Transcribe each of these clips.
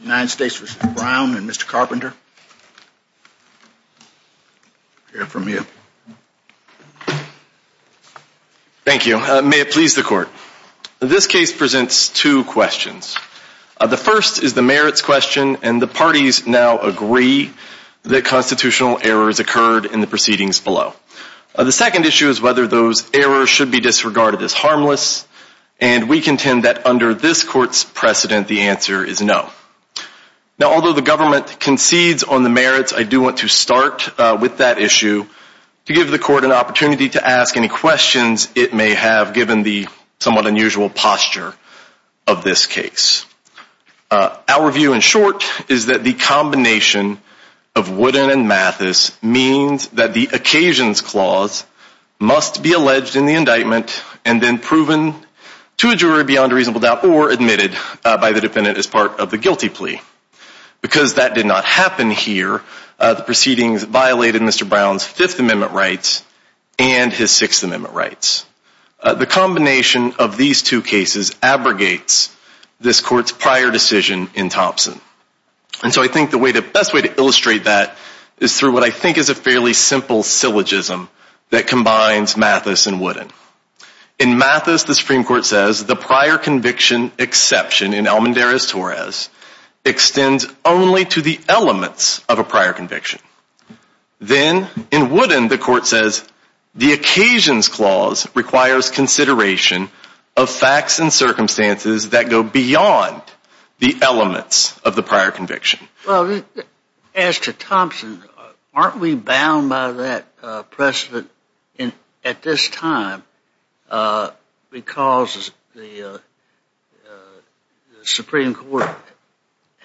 United States v. Brown and Mr. Carpenter to hear from you. Thank you. May it please the court. This case presents two questions. The first is the merits question and the parties now agree that constitutional errors occurred in the proceedings below. The second issue is whether those errors should be disregarded as harmless and we contend that under this court's precedent, the answer is no. Now, although the government concedes on the merits, I do want to start with that issue to give the court an opportunity to ask any questions it may have given the somewhat unusual posture of this case. Our view in short is that the combination of Woodin and Mathis means that the occasions clause must be alleged in the indictment and then proven to a jury beyond a reasonable doubt or admitted by the defendant as part of the guilty plea. Because that did not happen here, the proceedings violated Mr. Brown's Fifth Amendment rights and his Sixth Amendment rights. The combination of these two cases abrogates this court's prior decision in Thompson. And so I think the best way to illustrate that is through what I think is a fairly simple syllogism that combines Mathis and Woodin. In Mathis, the Supreme Court says the prior conviction exception in Almendarez-Torres extends only to the elements of a prior conviction. Then in Woodin, the court says the occasions clause requires consideration of facts and circumstances that go beyond the elements of the prior conviction. Well, as to Thompson, aren't we bound by that precedent at this time because the Supreme Court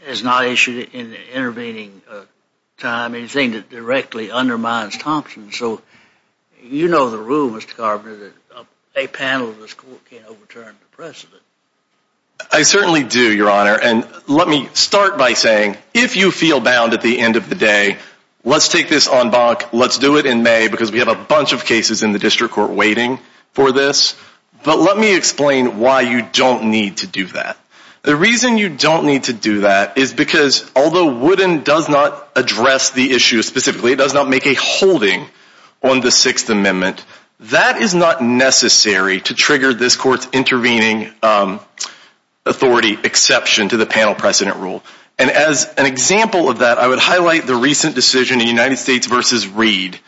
has not issued in the intervening time anything that directly undermines Thompson? So you know the rule, Mr. Carpenter, that a panel of this court can't overturn the precedent. I certainly do, Your Honor. And let me start by saying, if you feel bound at the end of the day, let's take this en banc, let's do it in May because we have a bunch of cases in the district court waiting for this. But let me explain why you don't need to do that. The reason you don't need to do that is because although Woodin does not address the issue specifically, it does not make a holding on the Sixth Amendment, that is not necessary to trigger this court's intervening authority exception to the panel precedent rule. And as an example of that, I would highlight the recent decision in United States v. Reed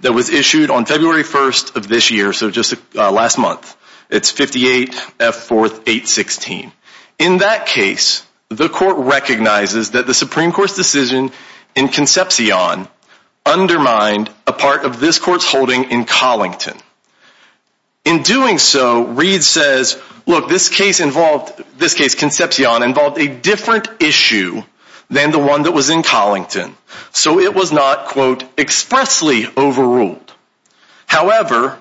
that was issued on February 1st of this year, so just last month. It's 58 F. 4th 816. In that case, the court recognizes that the Supreme Court's decision in Concepcion undermined a part of this court's holding in Collington. In doing so, Reed says, look, this case involved, this case, Concepcion, involved a different issue than the one that was in Collington. So it was not, quote, expressly overruled. However,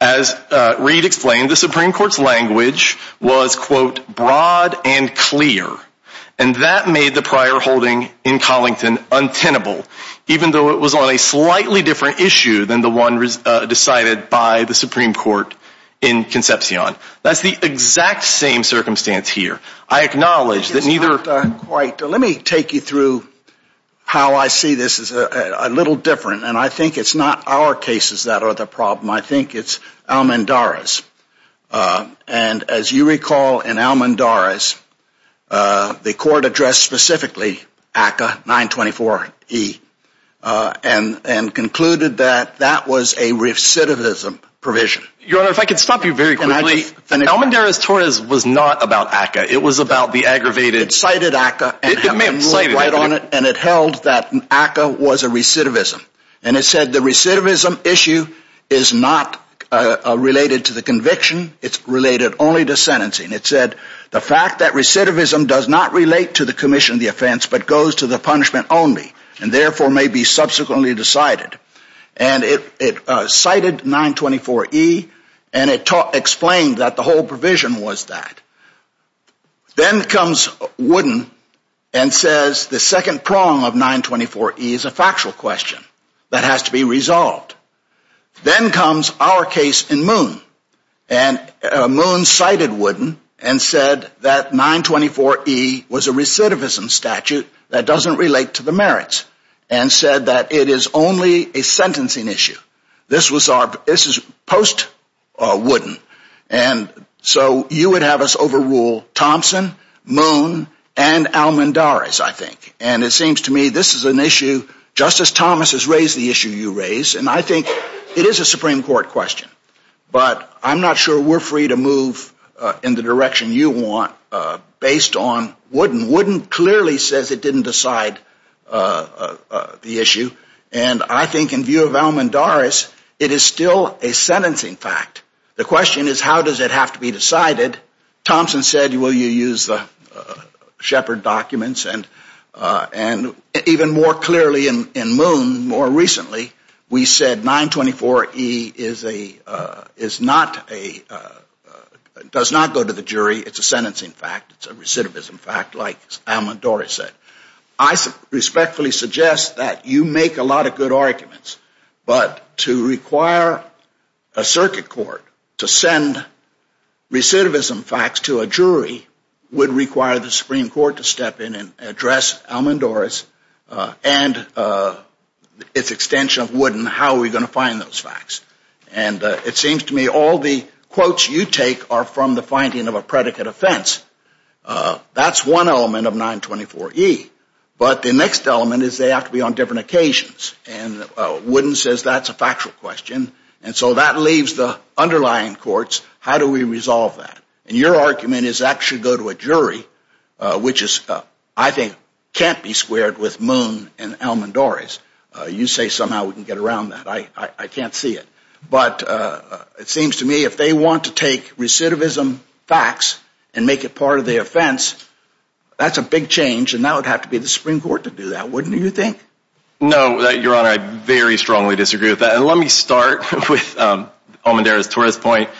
as Reed explained, the Supreme Court's language was, quote, broad and clear. And that made the prior holding in Collington untenable, even though it was on a slightly different issue than the one decided by the Supreme Court in Concepcion. That's the exact same circumstance here. I acknowledge that neither... It's not quite. Let me take you through how I see this as a little different. And I think it's not our cases that are the problem. I think it's Almandara's. And as you recall in Almandara's, the court addressed specifically ACCA 924E and concluded that that was a recidivism provision. Your Honor, if I could stop you very quickly. Almandara's TORIS was not about ACCA. It was about the aggravated... It cited ACCA and it held that ACCA was a recidivism. And it said the recidivism issue is not related to the conviction. It's related only to sentencing. It said the fact that recidivism does not relate to the commission of the offense but goes to the punishment only and therefore may be subsequently decided. And it cited 924E and it explained that the whole provision was that. Then comes Wooden and says the second prong of 924E is a factual question that has to be resolved. Then comes our case in Moon. And Moon cited Wooden and said that 924E was a recidivism statute that doesn't relate to the merits and said that it is only a sentencing issue. This was our... This is post-Wooden. And so you would have us overrule Thompson, Moon, and Almandara's, I think. And it seems to me this is an issue just as Thomas has raised the issue you raised. And I think it is a Supreme Court question. But I'm not sure we're free to move in the direction you want based on Wooden. Wooden clearly says it didn't decide the issue. And I think in view of Almandara's, it is still a sentencing fact. The question is how does it have to be decided? Thompson said, well, you use the Shepard documents. And even more clearly in Moon, more recently, we said 924E is a... Is not a... Does not go to the jury. It's a sentencing fact. It's a recidivism fact like Almandara said. I respectfully suggest that you make a lot of good arguments. But to require a circuit court to send recidivism facts to a jury would require the Supreme Court to step in and address Almandara's and its extension of Wooden, how are we going to find those facts? And it seems to me all the quotes you take are from the finding of a predicate offense. That's one element of 924E. But the next element is they have to be on different occasions. And Wooden says that's a factual question. And so that leaves the underlying courts. How do we resolve that? And your argument is that should go to a jury, which is, I think, can't be squared with Moon and Almandara's. You say somehow we can get around that. I can't see it. But it seems to me if they want to take recidivism facts and make it part of the offense, that's a big change and that would have to be the Supreme Court to do that, wouldn't you think? No, Your Honor, I very strongly disagree with that. And let me start with Almandara's tourist point.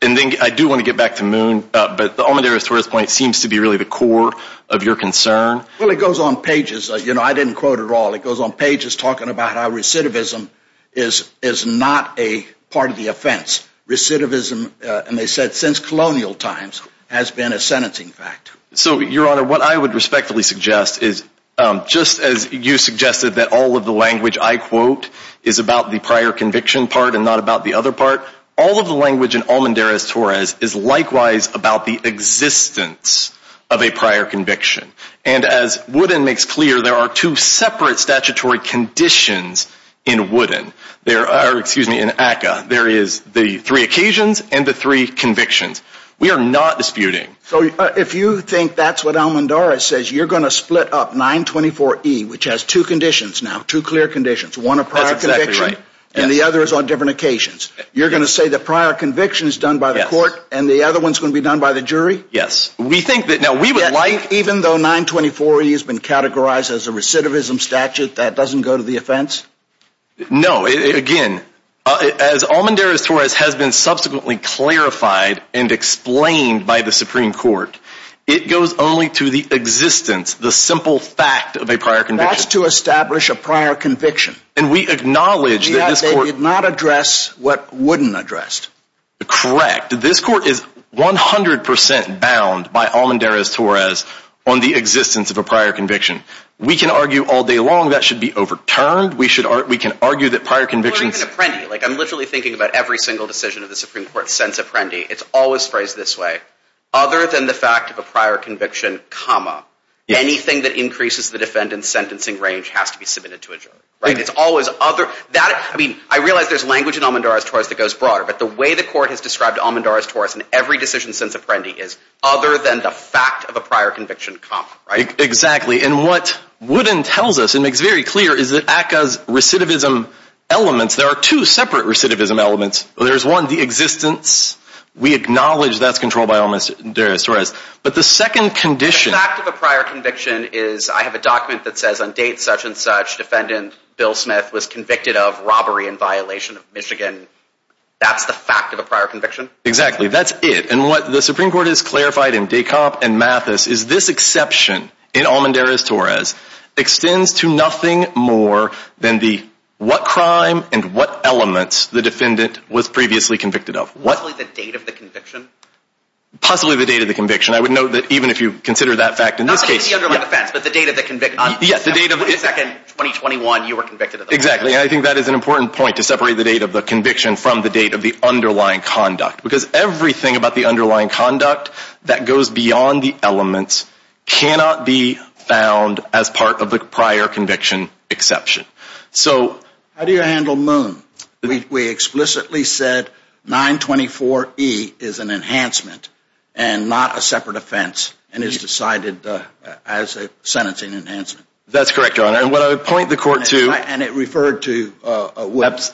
And then I do want to get back to Moon. But Almandara's tourist point seems to be really the core of your concern. Well, it goes on pages. I didn't quote it all. It goes on pages talking about how recidivism is not a part of the offense. Recidivism, and they said since colonial times, has been a sentencing fact. So, Your Honor, what I would respectfully suggest is just as you suggested that all of the language I quote is about the prior conviction part and not about the other part, all of the language in Almandara's tourist is likewise about the existence of a prior conviction. And as Wooden makes clear, there are two separate statutory conditions in Wooden. There are, excuse me, in ACCA. There is the three occasions and the three convictions. We are not disputing. So, if you think that's what Almandara says, you're going to split up 924E, which has two conditions now, two clear conditions, one a prior conviction and the other is on different occasions. You're going to say the prior conviction is done by the court and the other one's going to be done by the jury? Yes. We think that now we would like, even though 924E has been categorized as a recidivism statute, that doesn't go to the offense? No. Again, as Almandara's tourist has been subsequently clarified and explained by the Supreme Court, it goes only to the existence, the simple fact of a prior conviction. That's to establish a prior conviction. And we acknowledge that this court... They did not address what Wooden addressed. Correct. This court is 100% bound by Almandara's tourist on the existence of a prior conviction. We can argue all day long that should be overturned. We can argue that prior convictions... Or even Apprendi. I'm literally thinking about every single decision of the Supreme Court since Apprendi. It's always phrased this way. Other than the fact of a prior conviction, anything that increases the defendant's sentencing range has to be submitted to a jury. I realize there's language in Almandara's tourist that goes broader, but the way the court has described Almandara's tourist in every decision since prior conviction comes. Exactly. And what Wooden tells us and makes very clear is that ACCA's recidivism elements... There are two separate recidivism elements. There's one, the existence. We acknowledge that's controlled by Almandara's tourist. But the second condition... The fact of a prior conviction is I have a document that says on date such and such, defendant Bill Smith was convicted of robbery in violation of Michigan. That's the fact of a prior conviction? Exactly. That's it. And what the Supreme Court has clarified in DeKalb and Mathis is this exception in Almandara's tourist extends to nothing more than what crime and what elements the defendant was previously convicted of. Possibly the date of the conviction? Possibly the date of the conviction. I would note that even if you consider that fact in this case... Not the underlying offense, but the date of the conviction. Yes, the date of... 22nd, 2021, you were convicted of the offense. Exactly. And I think that is an important point to separate the date of the conviction from the date of the underlying conduct. Because everything about the underlying conduct that goes beyond the elements cannot be found as part of the prior conviction exception. So... How do you handle Moon? We explicitly said 924E is an enhancement and not a separate offense and is decided as a sentencing enhancement. That's correct, Your Honor. And what I would point the court to... And it referred to...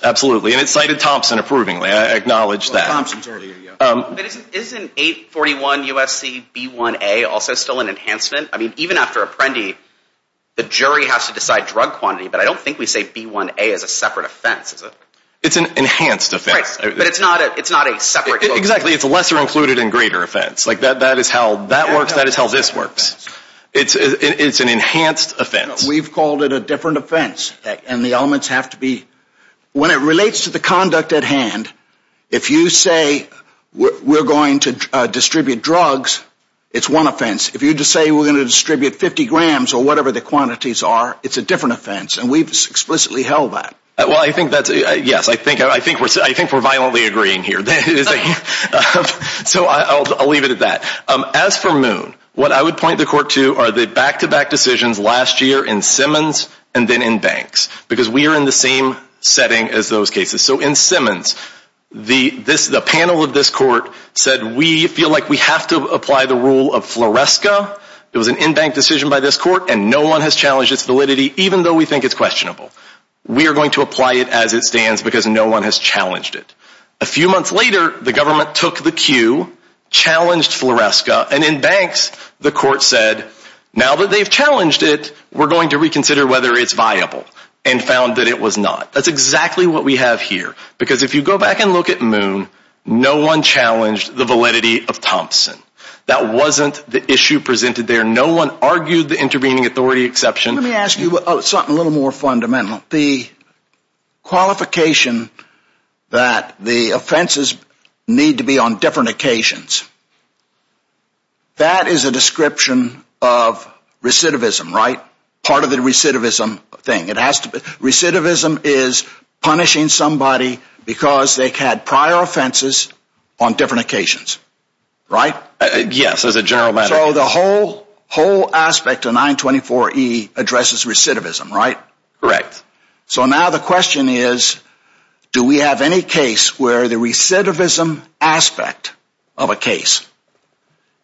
Absolutely. And it cited Thompson approvingly. I acknowledge that. Thompson's earlier, yeah. Isn't 841UFCB1A also still an enhancement? I mean, even after Apprendi, the jury has to decide drug quantity, but I don't think we say B1A is a separate offense, is it? It's an enhanced offense. Right. But it's not a separate... Exactly. It's a lesser included and greater offense. Like that is how that works. That is how this works. It's an enhanced offense. We've called it a different offense. And the elements have to be... When it relates to the conduct at hand, if you say we're going to distribute drugs, it's one offense. If you just say we're going to distribute 50 grams or whatever the quantities are, it's a different offense. And we've explicitly held that. Well, I think that's... Yes. I think we're violently agreeing here. So I'll leave it at that. As for Moon, what I would point the court to are the back-to-back decisions last year in Simmons and then in Banks, because we are in the same setting as those cases. So in Simmons, the panel of this court said, we feel like we have to apply the rule of Floresca. It was an in-bank decision by this court and no one has challenged its validity, even though we think it's questionable. We are going to apply it as it stands because no one has challenged it. A few months later, the government took the cue, challenged Floresca, and in Banks, the court said, now that they've challenged it, we're going to reconsider whether it's viable and found that it was not. That's exactly what we have here. Because if you go back and look at Moon, no one challenged the validity of Thompson. That wasn't the issue presented there. No one argued the intervening authority exception. Let me ask you something a little more specific. The whole aspect of 924E addresses recidivism, right? Correct. So now the question is, do we have any case where the recidivism aspect of a case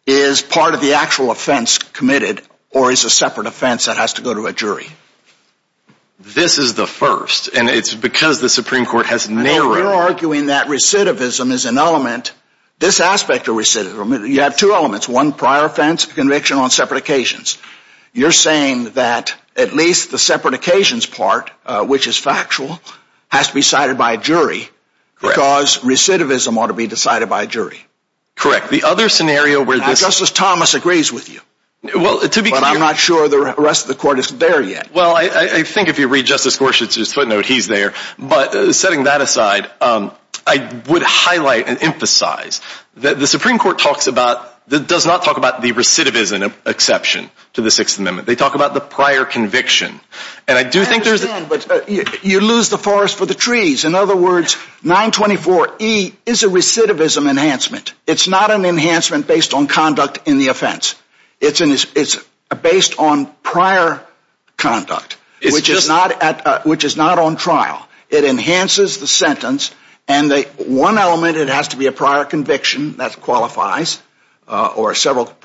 is part of the actual offense committed or is a separate offense that has to go to a jury? This is the first, and it's because the Supreme Court has narrowed... You're arguing that recidivism is an element. This aspect of recidivism, you have two elements, one prior offense conviction on separate occasions. You're saying that at least the which is factual has to be cited by a jury because recidivism ought to be decided by a jury. Correct. The other scenario where this... Justice Thomas agrees with you. But I'm not sure the rest of the court is there yet. Well, I think if you read Justice Gorsuch's footnote, he's there. But setting that aside, I would highlight and emphasize that the Supreme Court does not talk about the recidivism exception to the Sixth Amendment. They talk about the prior conviction. And I do think there's... I understand, but you lose the forest for the trees. In other words, 924E is a recidivism enhancement. It's not an enhancement based on conduct in the offense. It's based on prior conduct, which is not on trial. It enhances the sentence. And one element, it has to be a prior conviction that qualifies or several...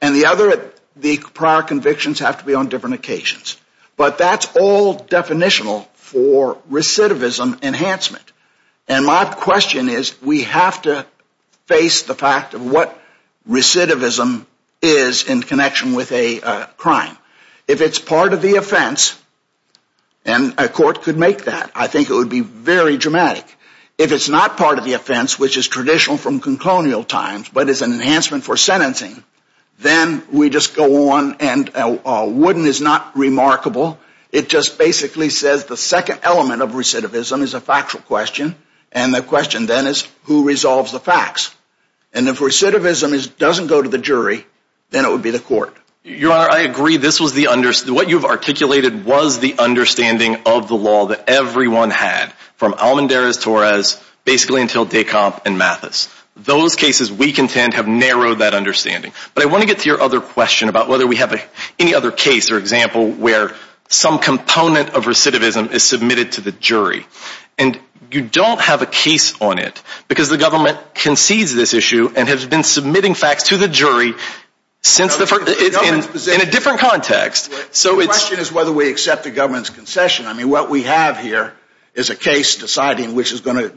And the other, the prior convictions have to be on different occasions. But that's all definitional for recidivism enhancement. And my question is, we have to face the fact of what recidivism is in connection with a crime. If it's part of the offense, and a court could make that, I think it would be very dramatic. If it's not part of the offense, which is traditional from conclonial times, but is an enhancement for sentencing, then we just go on. And wooden is not remarkable. It just basically says the second element of recidivism is a factual question. And the question then is, who resolves the facts? And if recidivism doesn't go to the jury, then it would be the court. Your Honor, I agree. This was the... What you've articulated was the understanding of the law that everyone had, from Almendarez-Torres, basically until Decomp and Mathis. Those cases, we contend, have narrowed that understanding. But I want to get to your other question about whether we have any other case or example where some component of recidivism is submitted to the jury. And you don't have a case on it, because the government concedes this issue and has been submitting facts to the jury in a different context. The question is whether we accept the government's concession. I mean, what we have here is a case deciding which is going to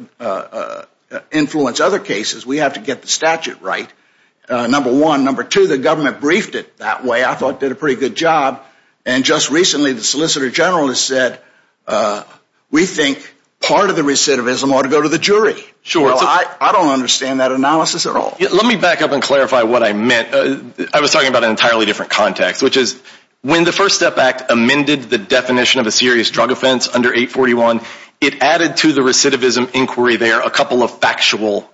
number one. Number two, the government briefed it that way. I thought it did a pretty good job. And just recently, the Solicitor General has said, we think part of the recidivism ought to go to the jury. I don't understand that analysis at all. Let me back up and clarify what I meant. I was talking about an entirely different context, which is when the First Step Act amended the definition of a serious drug offense under 841, it added to the recidivism inquiry there a couple of factual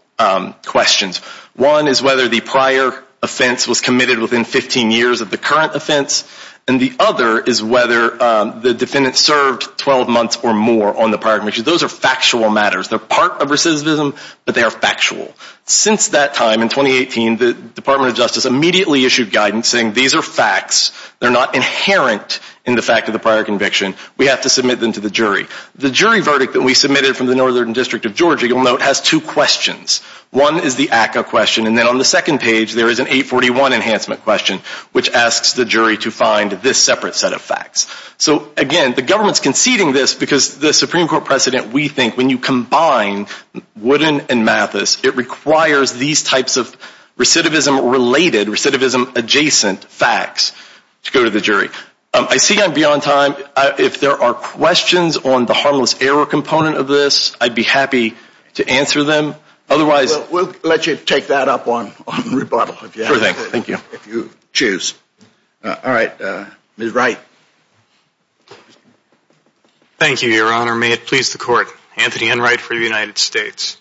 questions. One is whether the prior offense was committed within 15 years of the current offense. And the other is whether the defendant served 12 months or more on the prior conviction. Those are factual matters. They're part of recidivism, but they are factual. Since that time in 2018, the Department of Justice immediately issued guidance saying these are facts. They're not inherent in the fact of the prior conviction. We have to submit them to the jury. The jury verdict that we submitted from the Northern District of Georgia, you'll note, has two questions. One is the ACCA question, and then on the second page, there is an 841 enhancement question, which asks the jury to find this separate set of facts. So again, the government's conceding this because the Supreme Court precedent, we think, when you combine Woodin and Mathis, it requires these types of recidivism-related, recidivism-adjacent facts to go to the jury. I see I'm beyond time. If there are questions on the harmless error component of this, I'd be happy to answer them. Otherwise... Well, we'll let you take that up on rebuttal, if you have to. Sure thing. Thank you. If you choose. All right. Ms. Wright. Thank you, Your Honor. May it please the Court. Anthony Enright for the United States.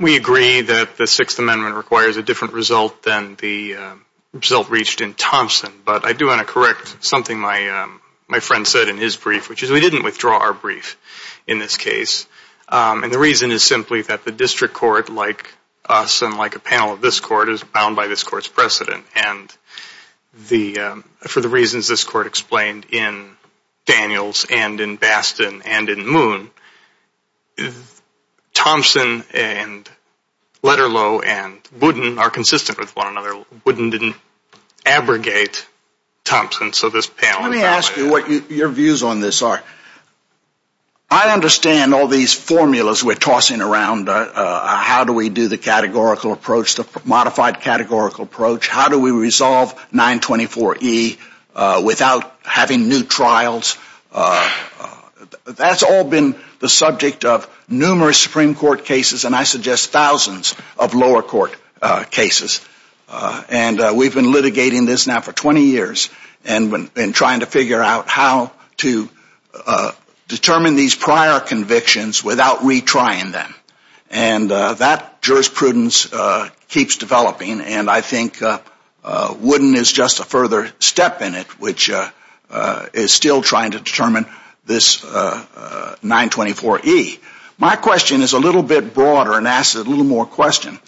We agree that the Sixth Amendment requires a different result than the result reached in Thompson, but I do want to correct something my friend said in his brief, which is we didn't withdraw our brief in this case. And the reason is simply that the District Court, like us and like a panel of this Court, is bound by this Court's precedent. And for the reasons this Court explained in Daniels and in Bastin and in Moon, Thompson and Lederloh and Woodin are consistent with one another. Woodin didn't abrogate Thompson, so this panel... Let me ask you what your views on this are. I understand all these formulas we're tossing around. How do we do the categorical approach, the modified categorical approach? How do we resolve 924E without having new trials? That's all been the subject of numerous Supreme Court cases, and I suggest thousands of lower court cases. And we've been litigating this now for 20 years and trying to figure out how to determine these prior convictions without retrying them. And that jurisprudence keeps developing, and I think Woodin is just a further step in it, which is still trying to determine this 924E. My question is a little bit broader and asks a more question.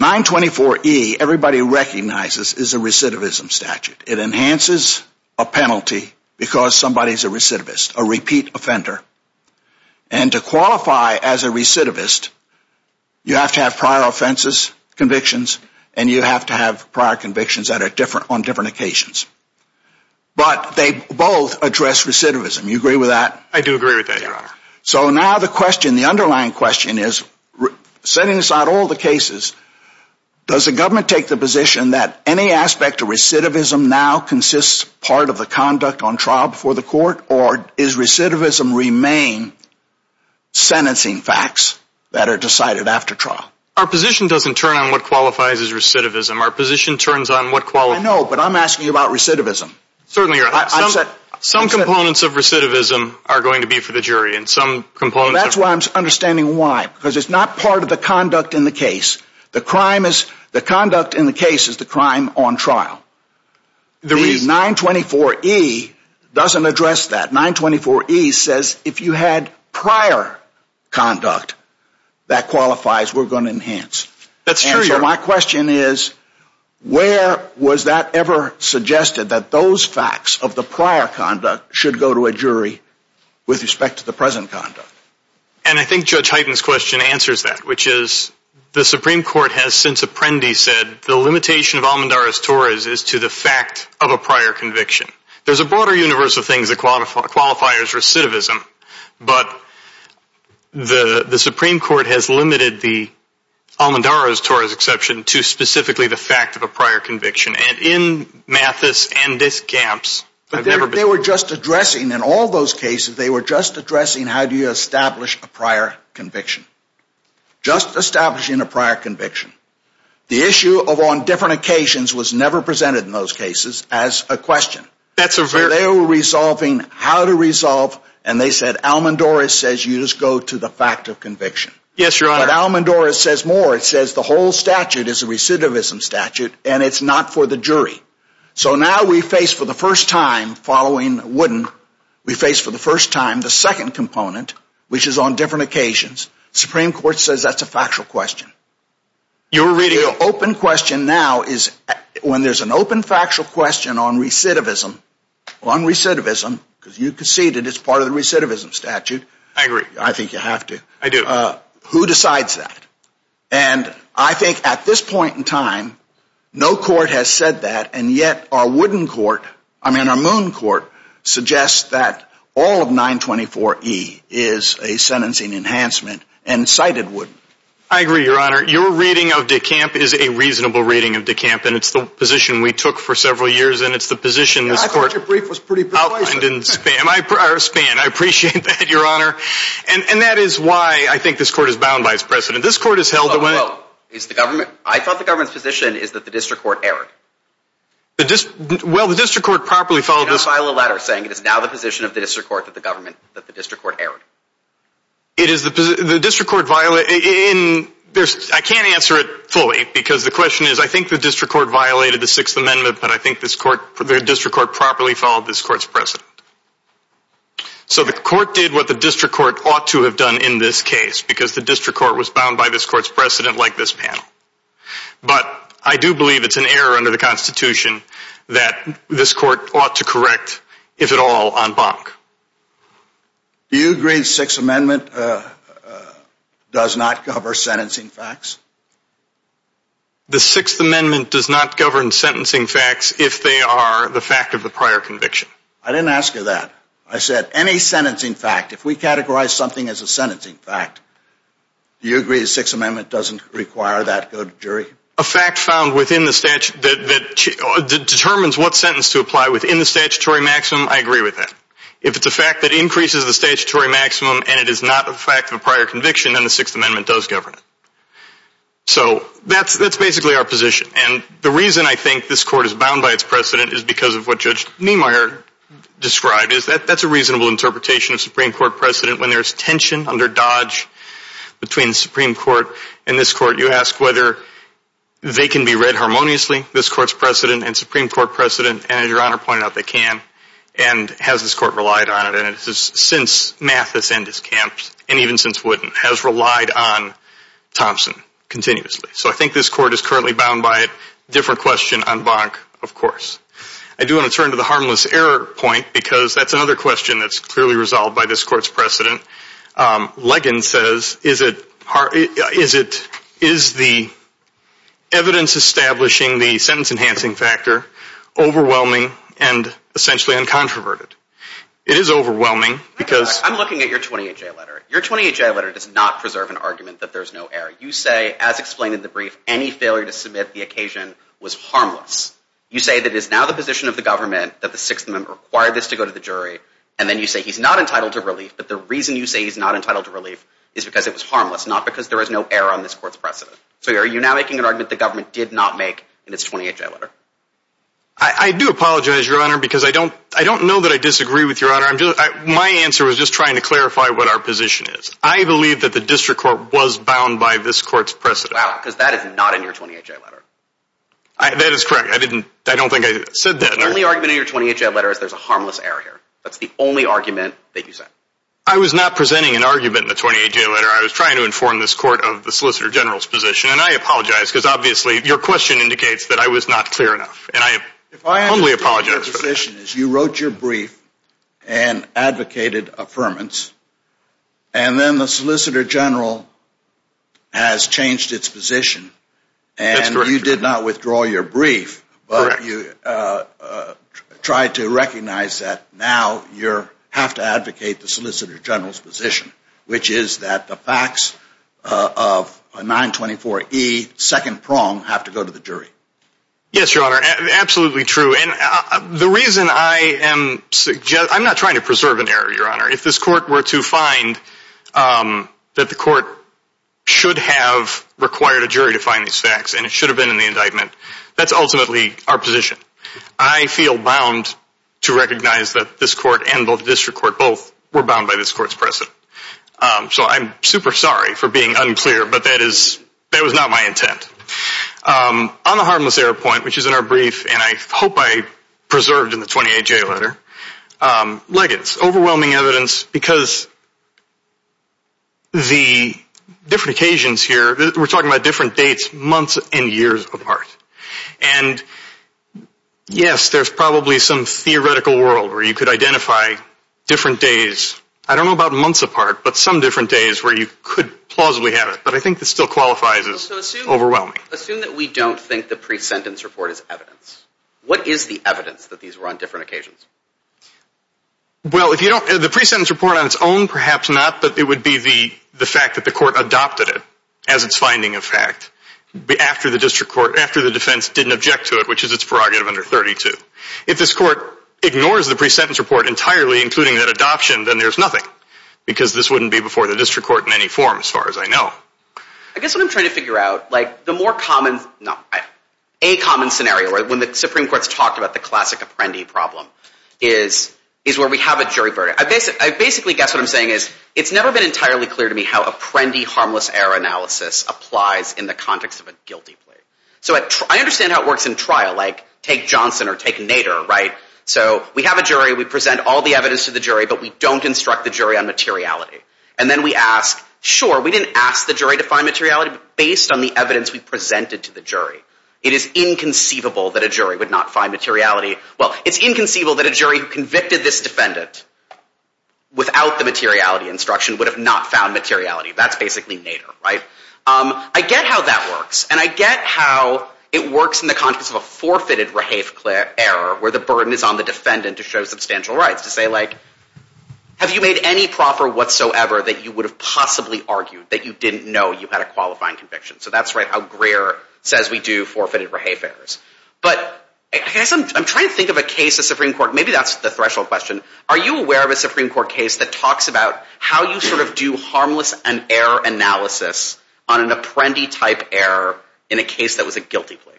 924E, everybody recognizes, is a recidivism statute. It enhances a penalty because somebody's a recidivist, a repeat offender. And to qualify as a recidivist, you have to have prior offenses, convictions, and you have to have prior convictions that are different on different occasions. But they both address recidivism. You agree with that? I do agree with that, Your Honor. So now the question, the underlying question is, setting aside all the cases, does the government take the position that any aspect of recidivism now consists part of the conduct on trial before the court, or is recidivism remain sentencing facts that are decided after trial? Our position doesn't turn on what qualifies as recidivism. Our position turns on what qualifies. I know, but I'm asking about recidivism. Certainly, Your Honor. Some components of recidivism are going to be for the jury. That's why I'm understanding why, because it's not part of the conduct in the case. The conduct in the case is the crime on trial. The 924E doesn't address that. 924E says if you had prior conduct, that qualifies, we're going to enhance. That's true, Your Honor. So my question is, where was that ever suggested that those facts of the prior conduct should go to a jury with respect to the present conduct? And I think Judge Hyten's question answers that, which is, the Supreme Court has since Apprendi said, the limitation of Almodarra's-Torres is to the fact of a prior conviction. There's a broader universe of things that qualifies as recidivism, but the Supreme Court has limited the Almodarra's-Torres exception to specifically the In all those cases, they were just addressing how do you establish a prior conviction, just establishing a prior conviction. The issue of on different occasions was never presented in those cases as a question. They were resolving how to resolve, and they said Almodarra's-Torres says you just go to the fact of conviction. But Almodarra's-Torres says more. It says the whole statute is a recidivism statute, and it's not for the jury. So now we face for the first time following Wooden, we face for the first time the second component, which is on different occasions. Supreme Court says that's a factual question. The open question now is when there's an open factual question on recidivism, on recidivism, because you conceded it's part of the recidivism statute. I agree. I think you have to. I do. Who decides that? And I think at this point, the Ramon Court suggests that all of 924E is a sentencing enhancement, and cited Wooden. I agree, your honor. Your reading of DeCamp is a reasonable reading of DeCamp, and it's the position we took for several years, and it's the position this court- I thought your brief was pretty precise. I didn't spam. I appreciate that, your honor. And that is why I think this court is bound by its precedent. This court has held- I thought the government's position is that the letter saying it is now the position of the district court that the government- that the district court erred. It is the position- the district court viola- in- there's- I can't answer it fully, because the question is I think the district court violated the Sixth Amendment, but I think this court- the district court properly followed this court's precedent. So the court did what the district court ought to have done in this case, because the district court was bound by this court's precedent like this panel. But I do believe it's an error under the Constitution that this court ought to correct, if at all, en banc. Do you agree the Sixth Amendment does not cover sentencing facts? The Sixth Amendment does not govern sentencing facts if they are the fact of the prior conviction. I didn't ask you that. I said any sentencing fact, if we categorize something as a sentencing fact, do you agree the Sixth Amendment doesn't require that to go to jury? A fact found within the statu- that determines what sentence to apply within the statutory maximum, I agree with that. If it's a fact that increases the statutory maximum and it is not a fact of a prior conviction, then the Sixth Amendment does govern it. So that's basically our position. And the reason I think this court is bound by its precedent is because of what Judge Niemeyer described, is that that's a reasonable interpretation of Supreme Court precedent when there's tension under Dodge between the Supreme Court and this court, whether they can be read harmoniously, this court's precedent, and Supreme Court precedent, and as your Honor pointed out, they can, and has this court relied on it, and it's since Mathis and his camps, and even since Wooden, has relied on Thompson continuously. So I think this court is currently bound by a different question en banc, of course. I do want to turn to the harmless error point because that's another question that's clearly resolved by this court's part. Is it- is the evidence establishing the sentence enhancing factor overwhelming and essentially uncontroverted? It is overwhelming because- I'm looking at your 28J letter. Your 28J letter does not preserve an argument that there's no error. You say, as explained in the brief, any failure to submit the occasion was harmless. You say that it is now the position of the government that the Sixth Amendment required this to go to the jury, and then you say he's not entitled to relief, but the reason you say he's not entitled to relief is because it was not because there is no error on this court's precedent. So are you now making an argument the government did not make in its 28J letter? I do apologize, your Honor, because I don't- I don't know that I disagree with your Honor. I'm just- my answer was just trying to clarify what our position is. I believe that the District Court was bound by this court's precedent. Wow, because that is not in your 28J letter. That is correct. I didn't- I don't think I said that. The only argument in your 28J letter is there's a harmless error here. That's the only argument that you said. I was not presenting an argument in the 28J letter. I was trying to inform this court of the Solicitor General's position, and I apologize because obviously your question indicates that I was not clear enough, and I only apologize for that. Your position is you wrote your brief and advocated affirmance, and then the Solicitor General has changed its position, and you did not withdraw your brief, but you tried to recognize that now you have to advocate the Solicitor General's position, which is that the facts of 924E, second prong, have to go to the jury. Yes, your Honor, absolutely true, and the reason I am- I'm not trying to preserve an error, your Honor. If this court were to find that the court should have required a jury to find these facts, and it should have been in the indictment, that's ultimately our position. I feel bound to recognize that this court and the district court both were bound by this court's precedent, so I'm super sorry for being unclear, but that is- that was not my intent. On the harmless error point, which is in our brief, and I hope I preserved in the 28J letter, legates, overwhelming evidence, because the different occasions here- we're talking about different dates, months, and years apart, and yes, there's probably some theoretical world where you could identify different days, I don't know about months apart, but some different days where you could plausibly have it, but I think this still qualifies as overwhelming. Assume that we don't think the pre-sentence report is evidence. What is the evidence that these were on different occasions? Well, if you don't- the pre-sentence report on its own, perhaps not, but it would be the fact that the court adopted it as its finding of fact, after the district court- after the defense didn't object to it, which is its prerogative under 32. If this court ignores the pre-sentence report entirely, including that adoption, then there's nothing, because this wouldn't be before the district court in any form, as far as I know. I guess what I'm trying to figure out, like, the more common- no, a common scenario, when the Supreme Court's talked about the classic apprendee problem, is where we have a jury verdict. I basically guess what I'm saying is, it's never been entirely clear to me how apprendee harmless error analysis applies in the context of a guilty plea. So I understand how it works in trial, like, take Johnson or take Nader, right? So we have a jury, we present all the evidence to the jury, but we don't instruct the jury on materiality. And then we ask, sure, we didn't ask the jury to find materiality, but based on the evidence we presented to the jury, it is inconceivable that a jury would not find materiality- well, it's inconceivable that a jury who convicted this without the materiality instruction would have not found materiality. That's basically Nader, right? I get how that works, and I get how it works in the context of a forfeited rehafe error, where the burden is on the defendant to show substantial rights, to say, like, have you made any proper whatsoever that you would have possibly argued that you didn't know you had a qualifying conviction? So that's, right, how Greer says we do forfeited rehafe errors. But I guess I'm trying to think of a case of Supreme Court- maybe that's the threshold question. Are you aware of a Supreme Court case that talks about how you sort of do harmless and error analysis on an apprendee-type error in a case that was a guilty plea?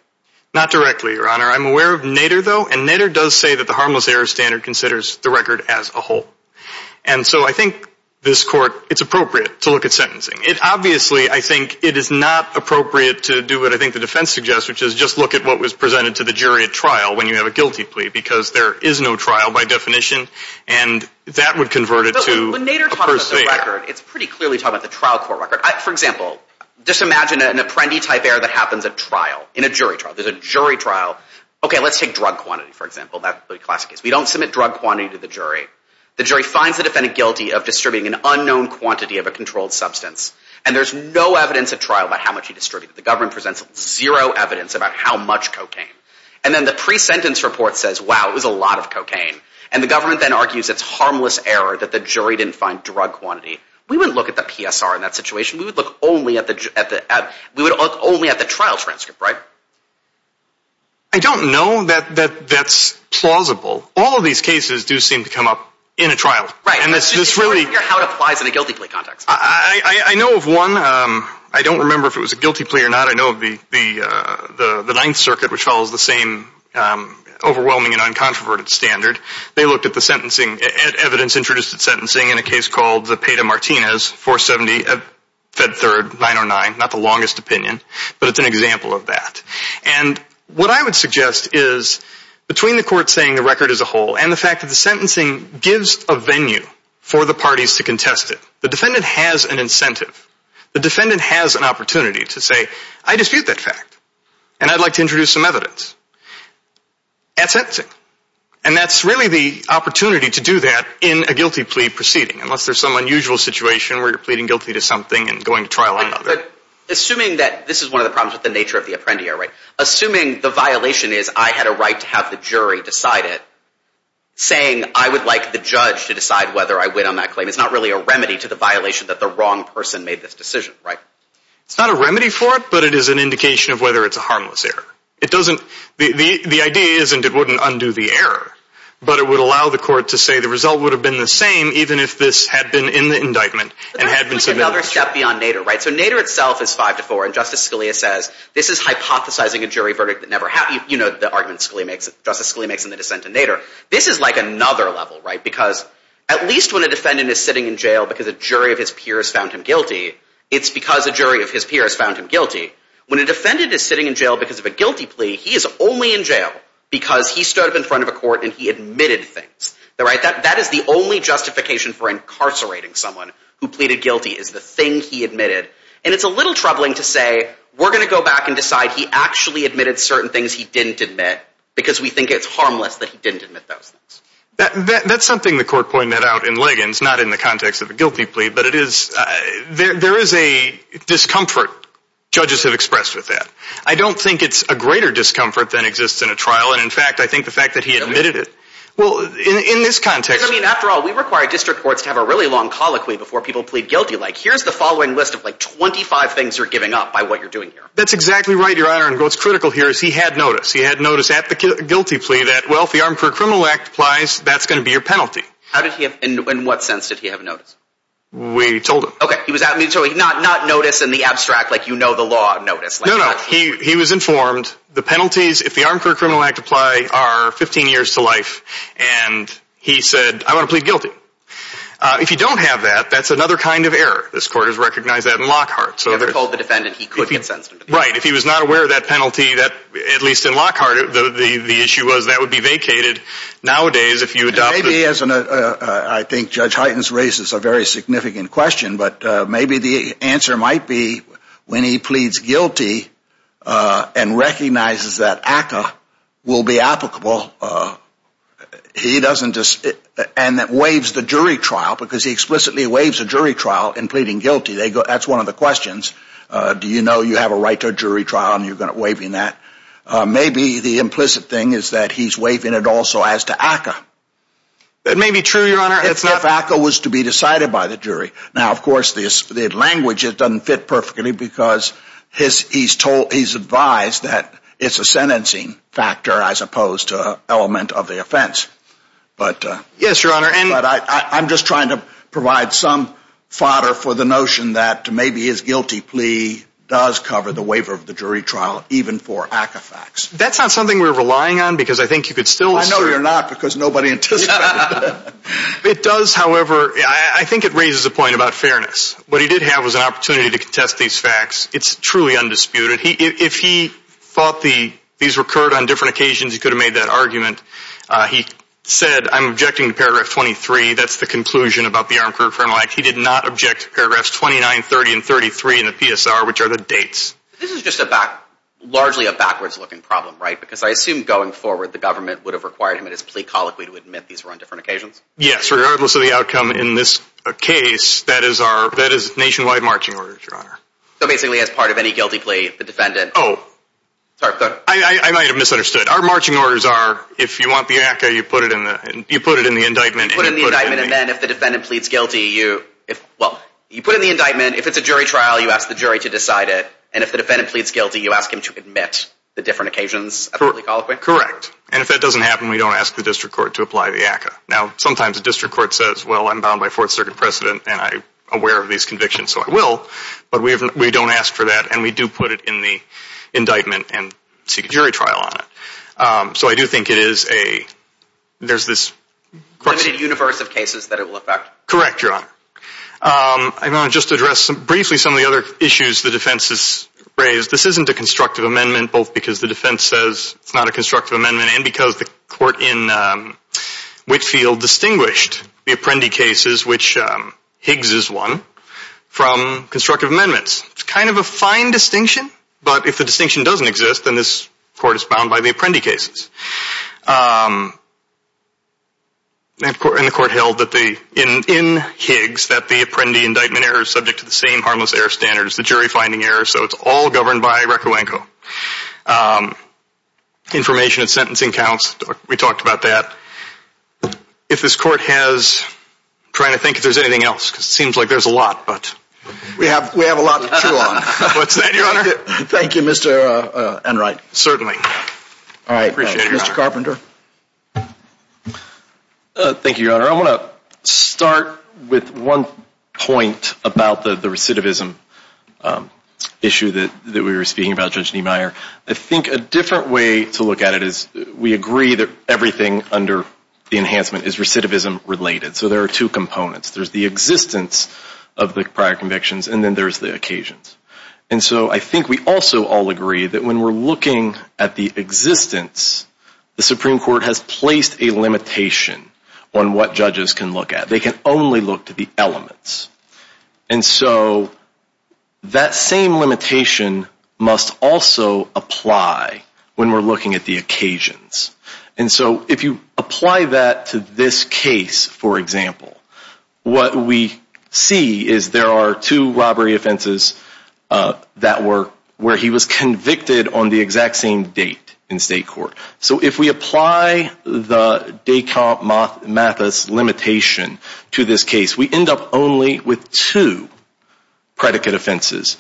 Not directly, Your Honor. I'm aware of Nader, though, and Nader does say that the harmless error standard considers the record as a whole. And so I think this Court, it's appropriate to look at sentencing. It obviously, I think, it is not appropriate to do what I think the defense suggests, which is just look at what was presented to the jury at trial when you have a guilty plea, because there is no trial by definition, and that would convert it to a per se error. When Nader talks about the record, it's pretty clearly talking about the trial court record. For example, just imagine an apprendee-type error that happens at trial, in a jury trial. There's a jury trial. Okay, let's take drug quantity, for example. That's a classic case. We don't submit drug quantity to the jury. The jury finds the defendant guilty of distributing an unknown quantity of a controlled substance, and there's no evidence at trial about how much he distributed. The government presents zero evidence about how much cocaine. And then the pre-sentence report says, wow, it was a lot of cocaine. And the government then argues it's harmless error that the jury didn't find drug quantity. We wouldn't look at the PSR in that situation. We would look only at the trial transcript, right? I don't know that that's plausible. All of these cases do seem to come up in a trial. Right. And this is really... How it applies in a guilty plea context. I know of one. I don't remember if it was a guilty plea or not. I know of the Ninth Circuit, which follows the same overwhelming and uncontroverted standard. They looked at the sentencing, at evidence introduced at sentencing in a case called the Peta-Martinez 470 at Fed Third 909. Not the longest opinion, but it's an example of that. And what I would suggest is, between the court saying the record is a hole and the fact that the sentencing gives a venue for the parties to contest it, the defendant has an incentive. The defendant has an opportunity to say, I dispute that fact, and I'd like to introduce some evidence at sentencing. And that's really the opportunity to do that in a guilty plea proceeding, unless there's some unusual situation where you're pleading guilty to something and going to trial on it. Assuming that this is one of the problems with the nature of the Apprendi Error, right? Assuming the violation is I had a right to have the jury decide it, saying I would like the judge to decide whether I win on that claim is not really a remedy to violation that the wrong person made this decision, right? It's not a remedy for it, but it is an indication of whether it's a harmless error. The idea isn't it wouldn't undo the error, but it would allow the court to say the result would have been the same, even if this had been in the indictment and had been submitted on trial. But there's another step beyond Nader, right? So Nader itself is 5 to 4, and Justice Scalia says, this is hypothesizing a jury verdict that never happened. You know the argument Justice Scalia makes in the dissent in Nader. This is like another level, right? Because at least when a jury of his peers found him guilty, it's because a jury of his peers found him guilty. When a defendant is sitting in jail because of a guilty plea, he is only in jail because he stood up in front of a court and he admitted things, right? That is the only justification for incarcerating someone who pleaded guilty is the thing he admitted. And it's a little troubling to say, we're going to go back and decide he actually admitted certain things he didn't admit, because we think it's harmless that he didn't admit those things. That's something the court pointed out in Liggins, not in the context of a guilty plea, but it is, there is a discomfort judges have expressed with that. I don't think it's a greater discomfort than exists in a trial. And in fact, I think the fact that he admitted it. Well, in this context, I mean, after all, we require district courts to have a really long colloquy before people plead guilty. Like here's the following list of like 25 things you're giving up by what you're doing here. That's exactly right, your honor. And what's critical here is he had notice. He recognized that's going to be your penalty. How did he have, in what sense did he have notice? We told him. Okay. He was not notice in the abstract, like, you know, the law notice. No, no. He was informed the penalties. If the Armed Career Criminal Act apply are 15 years to life. And he said, I want to plead guilty. If you don't have that, that's another kind of error. This court has recognized that in Lockhart. So they're called the defendant. He could get sentenced. Right. If he was not aware of that penalty, that at least in Lockhart, the issue was that would be vacated nowadays if you adopt. Maybe as I think Judge Heitens raises a very significant question, but maybe the answer might be when he pleads guilty and recognizes that ACA will be applicable. He doesn't just and that waives the jury trial because he explicitly waives a jury trial in pleading guilty. That's one of the questions. Do you know you have a right to waiving that? Maybe the implicit thing is that he's waiving it also as to ACA. That may be true, Your Honor. If ACA was to be decided by the jury. Now, of course, the language, it doesn't fit perfectly because his he's told he's advised that it's a sentencing factor as opposed to element of the offense. But yes, Your Honor. And I'm just trying to provide some fodder for the notion that maybe his guilty plea does cover the waiver of the jury trial even for ACA facts. That's not something we're relying on because I think you could still. I know you're not because nobody anticipated. It does, however, I think it raises a point about fairness. What he did have was an opportunity to contest these facts. It's truly undisputed. If he thought these recurred on different occasions, he could have made that argument. He said, I'm objecting to paragraph 23. That's the conclusion about the Armed Career Criminal Act. He did not object to paragraphs 29, 30, and 33 in the PSR, which are the dates. This is just a back, largely a backwards looking problem, right? Because I assume going forward, the government would have required him at his plea colloquy to admit these were on different occasions. Yes, regardless of the outcome in this case, that is our, that is nationwide marching orders, Your Honor. So basically as part of any guilty plea, the defendant. Oh, I might have misunderstood. Our marching orders are, if you want the ACA, you put it in the indictment. You put it in the indictment, and then if the defendant pleads guilty, you, well, you put it in the indictment. If it's a jury trial, you ask the jury to decide it. And if the defendant pleads guilty, you ask him to admit the different occasions of the plea colloquy? Correct. And if that doesn't happen, we don't ask the district court to apply the ACA. Now, sometimes the district court says, well, I'm bound by Fourth Circuit precedent, and I'm aware of these convictions, so I will. But we don't ask for that, and we do put it in the indictment. There's this limited universe of cases that it will affect. Correct, Your Honor. I want to just address briefly some of the other issues the defense has raised. This isn't a constructive amendment, both because the defense says it's not a constructive amendment, and because the court in Whitfield distinguished the Apprendi cases, which Higgs is one, from constructive amendments. It's kind of a fine distinction, but if the distinction doesn't exist, then this court is bound by the Apprendi cases. And the court held in Higgs that the Apprendi indictment error is subject to the same harmless error standards, the jury finding error, so it's all governed by Rekowenko. Information and sentencing counts, we talked about that. If this court has, I'm trying to think if there's anything else, because it seems like there's a lot, but we have a lot to chew on. What's that, Your Honor? Thank you, Mr. Enright. Certainly. I appreciate it, Your Honor. Mr. Carpenter. Thank you, Your Honor. I want to start with one point about the recidivism issue that we were speaking about, Judge Niemeyer. I think a different way to look at it is we agree that everything under the enhancement is recidivism related, so there are two components. There's the existence of the prior convictions, and then there's the occasions. And so I think we also all agree that when we're looking at the existence, the Supreme Court has placed a limitation on what judges can look at. They can only look to the elements. And so that same limitation must also apply when we're looking at the occasions. And so if you apply that to this case, for example, what we see is there are two robbery offenses that were where he was convicted on the exact same date in state court. So if we apply the Descartes-Mathis limitation to this case, we end up only with two predicate offenses,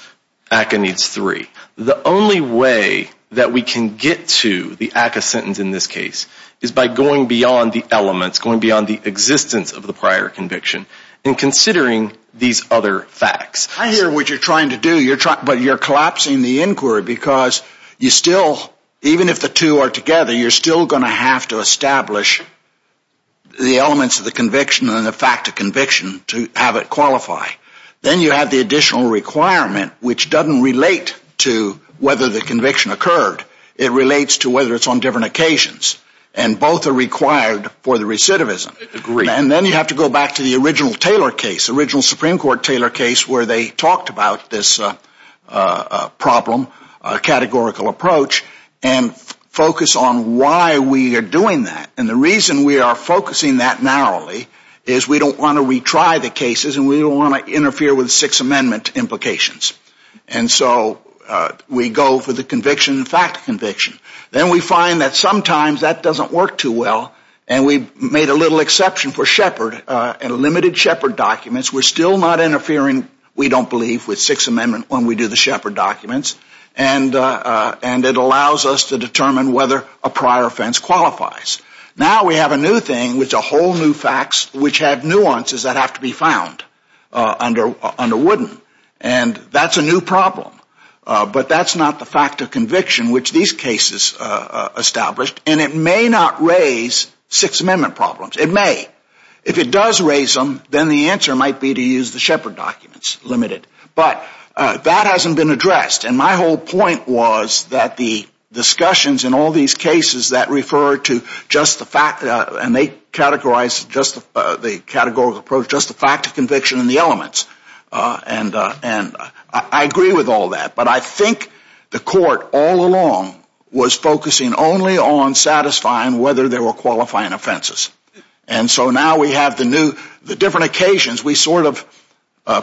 ACCA needs three. The only way that we can get to the ACCA sentence in this case is by going beyond the elements, going beyond the existence of the prior conviction and considering these other facts. I hear what you're trying to do, but you're collapsing the inquiry because you still, even if the two are together, you're still going to have to establish the elements of the conviction and the fact of conviction to have it qualify. Then you have the additional requirement, which doesn't relate to whether the conviction occurred. It relates to whether it's on different occasions, and both are required for the recidivism. And then you have to go back to the original Taylor case, original Supreme Court Taylor case, where they talked about this problem, a categorical approach, and focus on why we are doing that. And the reason we are focusing that narrowly is we don't want to interfere with Sixth Amendment implications. And so we go for the conviction and fact of conviction. Then we find that sometimes that doesn't work too well, and we've made a little exception for Shepard and limited Shepard documents. We're still not interfering, we don't believe, with Sixth Amendment when we do the Shepard documents, and it allows us to determine whether a prior offense qualifies. Now we have a new thing, which are whole new facts, which have nuances that have to be found under Wooden, and that's a new problem. But that's not the fact of conviction which these cases established, and it may not raise Sixth Amendment problems. It may. If it does raise them, then the answer might be to use the Shepard documents, limited. But that hasn't been addressed, and my whole point was that the discussions in all these cases that refer to and they categorize the categorical approach just the fact of conviction and the elements. And I agree with all that, but I think the court all along was focusing only on satisfying whether there were qualifying offenses. And so now we have the new, the different occasions we sort of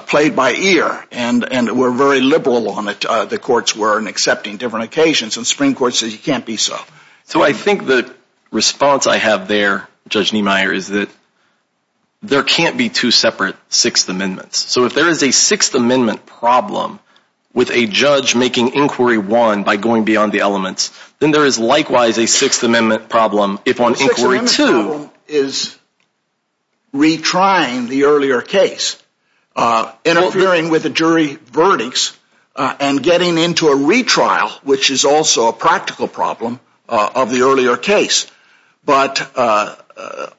played by ear and were very liberal on it, the courts were, in accepting different occasions, and Supreme Court says you can't be so. So I think the response I have there, Judge Niemeyer, is that there can't be two separate Sixth Amendments. So if there is a Sixth Amendment problem with a judge making Inquiry 1 by going beyond the elements, then there is likewise a Sixth Amendment problem if on Inquiry 2. The Sixth Amendment problem is retrying the earlier case, interfering with the jury verdicts, and getting into a retrial, which is also a practical problem of the earlier case. But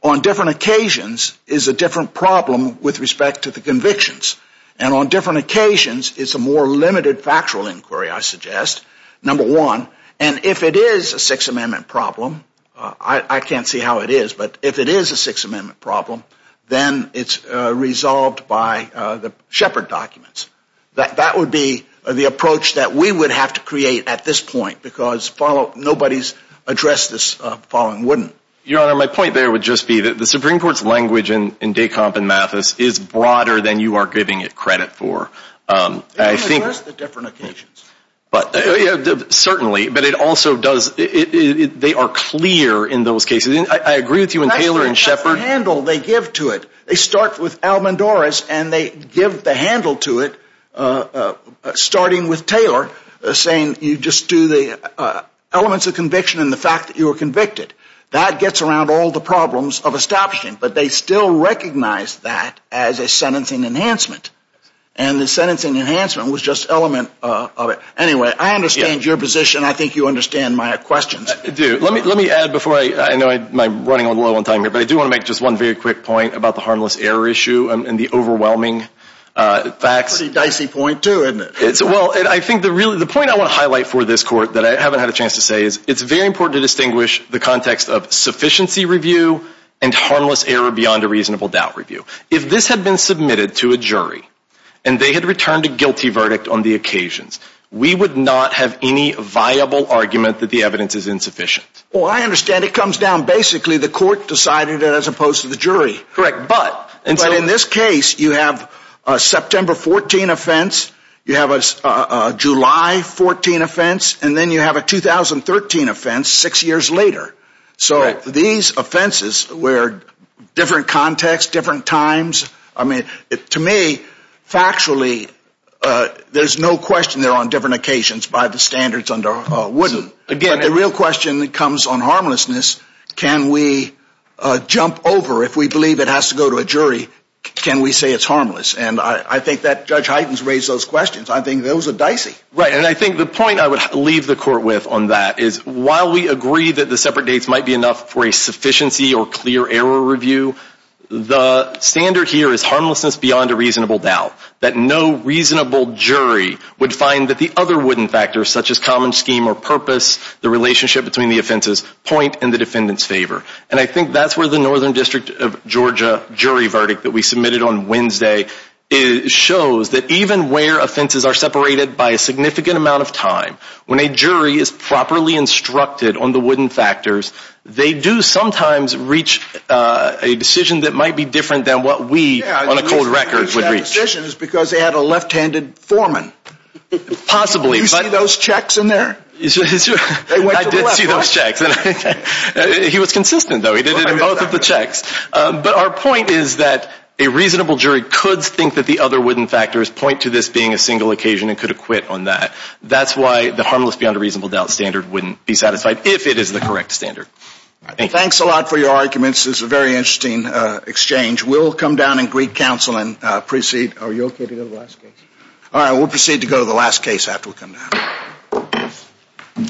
on different occasions is a different problem with respect to the convictions. And on different occasions, it's a more limited factual inquiry, I suggest, number one. And if it is a Sixth Amendment problem, I can't see how it is, but if it is a Sixth Amendment problem, then it's resolved by the Shepard documents. That would be the approach that we would have to create at this point, because nobody's addressed this following wouldn't. Your Honor, my point there would just be that the Supreme Court's language in Descamp and Mathis is broader than you are giving it credit for. They address the different occasions. Certainly, but it also does, they are clear in those cases. I agree with you in Taylor and Shepard. Their handle, they give to it. They start with Almendoras and they give the handle to it, starting with Taylor, saying you just do the elements of conviction and the fact that you were convicted. That gets around all the problems of establishing, but they still recognize that as a sentencing enhancement. And the sentencing enhancement was just element of it. Anyway, I understand your position. I think you understand my questions. I do. Let me add before, I know I'm running a little low on time here, but I do want to make just one very quick point about the harmless error issue and the overwhelming facts. Pretty dicey point too, isn't it? Well, I think the point I want to highlight for this court that I haven't had a chance to say is it's very important to distinguish the context of sufficiency review and harmless error beyond a reasonable doubt review. If this had been submitted to a jury and they had returned a Well, I understand it comes down basically, the court decided it as opposed to the jury. Correct. But in this case, you have a September 14 offense, you have a July 14 offense, and then you have a 2013 offense six years later. So these offenses were different contexts, different times. I mean, to me, factually, there's no question they're on different occasions by the comes on harmlessness, can we jump over if we believe it has to go to a jury, can we say it's harmless? And I think that Judge Hyten's raised those questions. I think those are dicey. Right. And I think the point I would leave the court with on that is while we agree that the separate dates might be enough for a sufficiency or clear error review, the standard here is harmlessness beyond a reasonable doubt, that no reasonable jury would find that the other wooden factors such as common scheme or purpose, the relationship between the offenses, point in the defendant's favor. And I think that's where the Northern District of Georgia jury verdict that we submitted on Wednesday shows that even where offenses are separated by a significant amount of time, when a jury is properly instructed on the wooden factors, they do sometimes reach a decision that might be different than what we on a cold record would reach. Because they had a left-handed foreman. Possibly. You see those checks in there? I did see those checks. He was consistent though. He did it in both of the checks. But our point is that a reasonable jury could think that the other wooden factors point to this being a single occasion and could acquit on that. That's why the harmless beyond a reasonable doubt standard wouldn't be satisfied if it is the correct standard. Thanks a lot for your arguments. This is a very interesting exchange. We'll come down and greet counsel and proceed. Are you okay to go to the last case? All right. We'll proceed to go to the last case after we come down.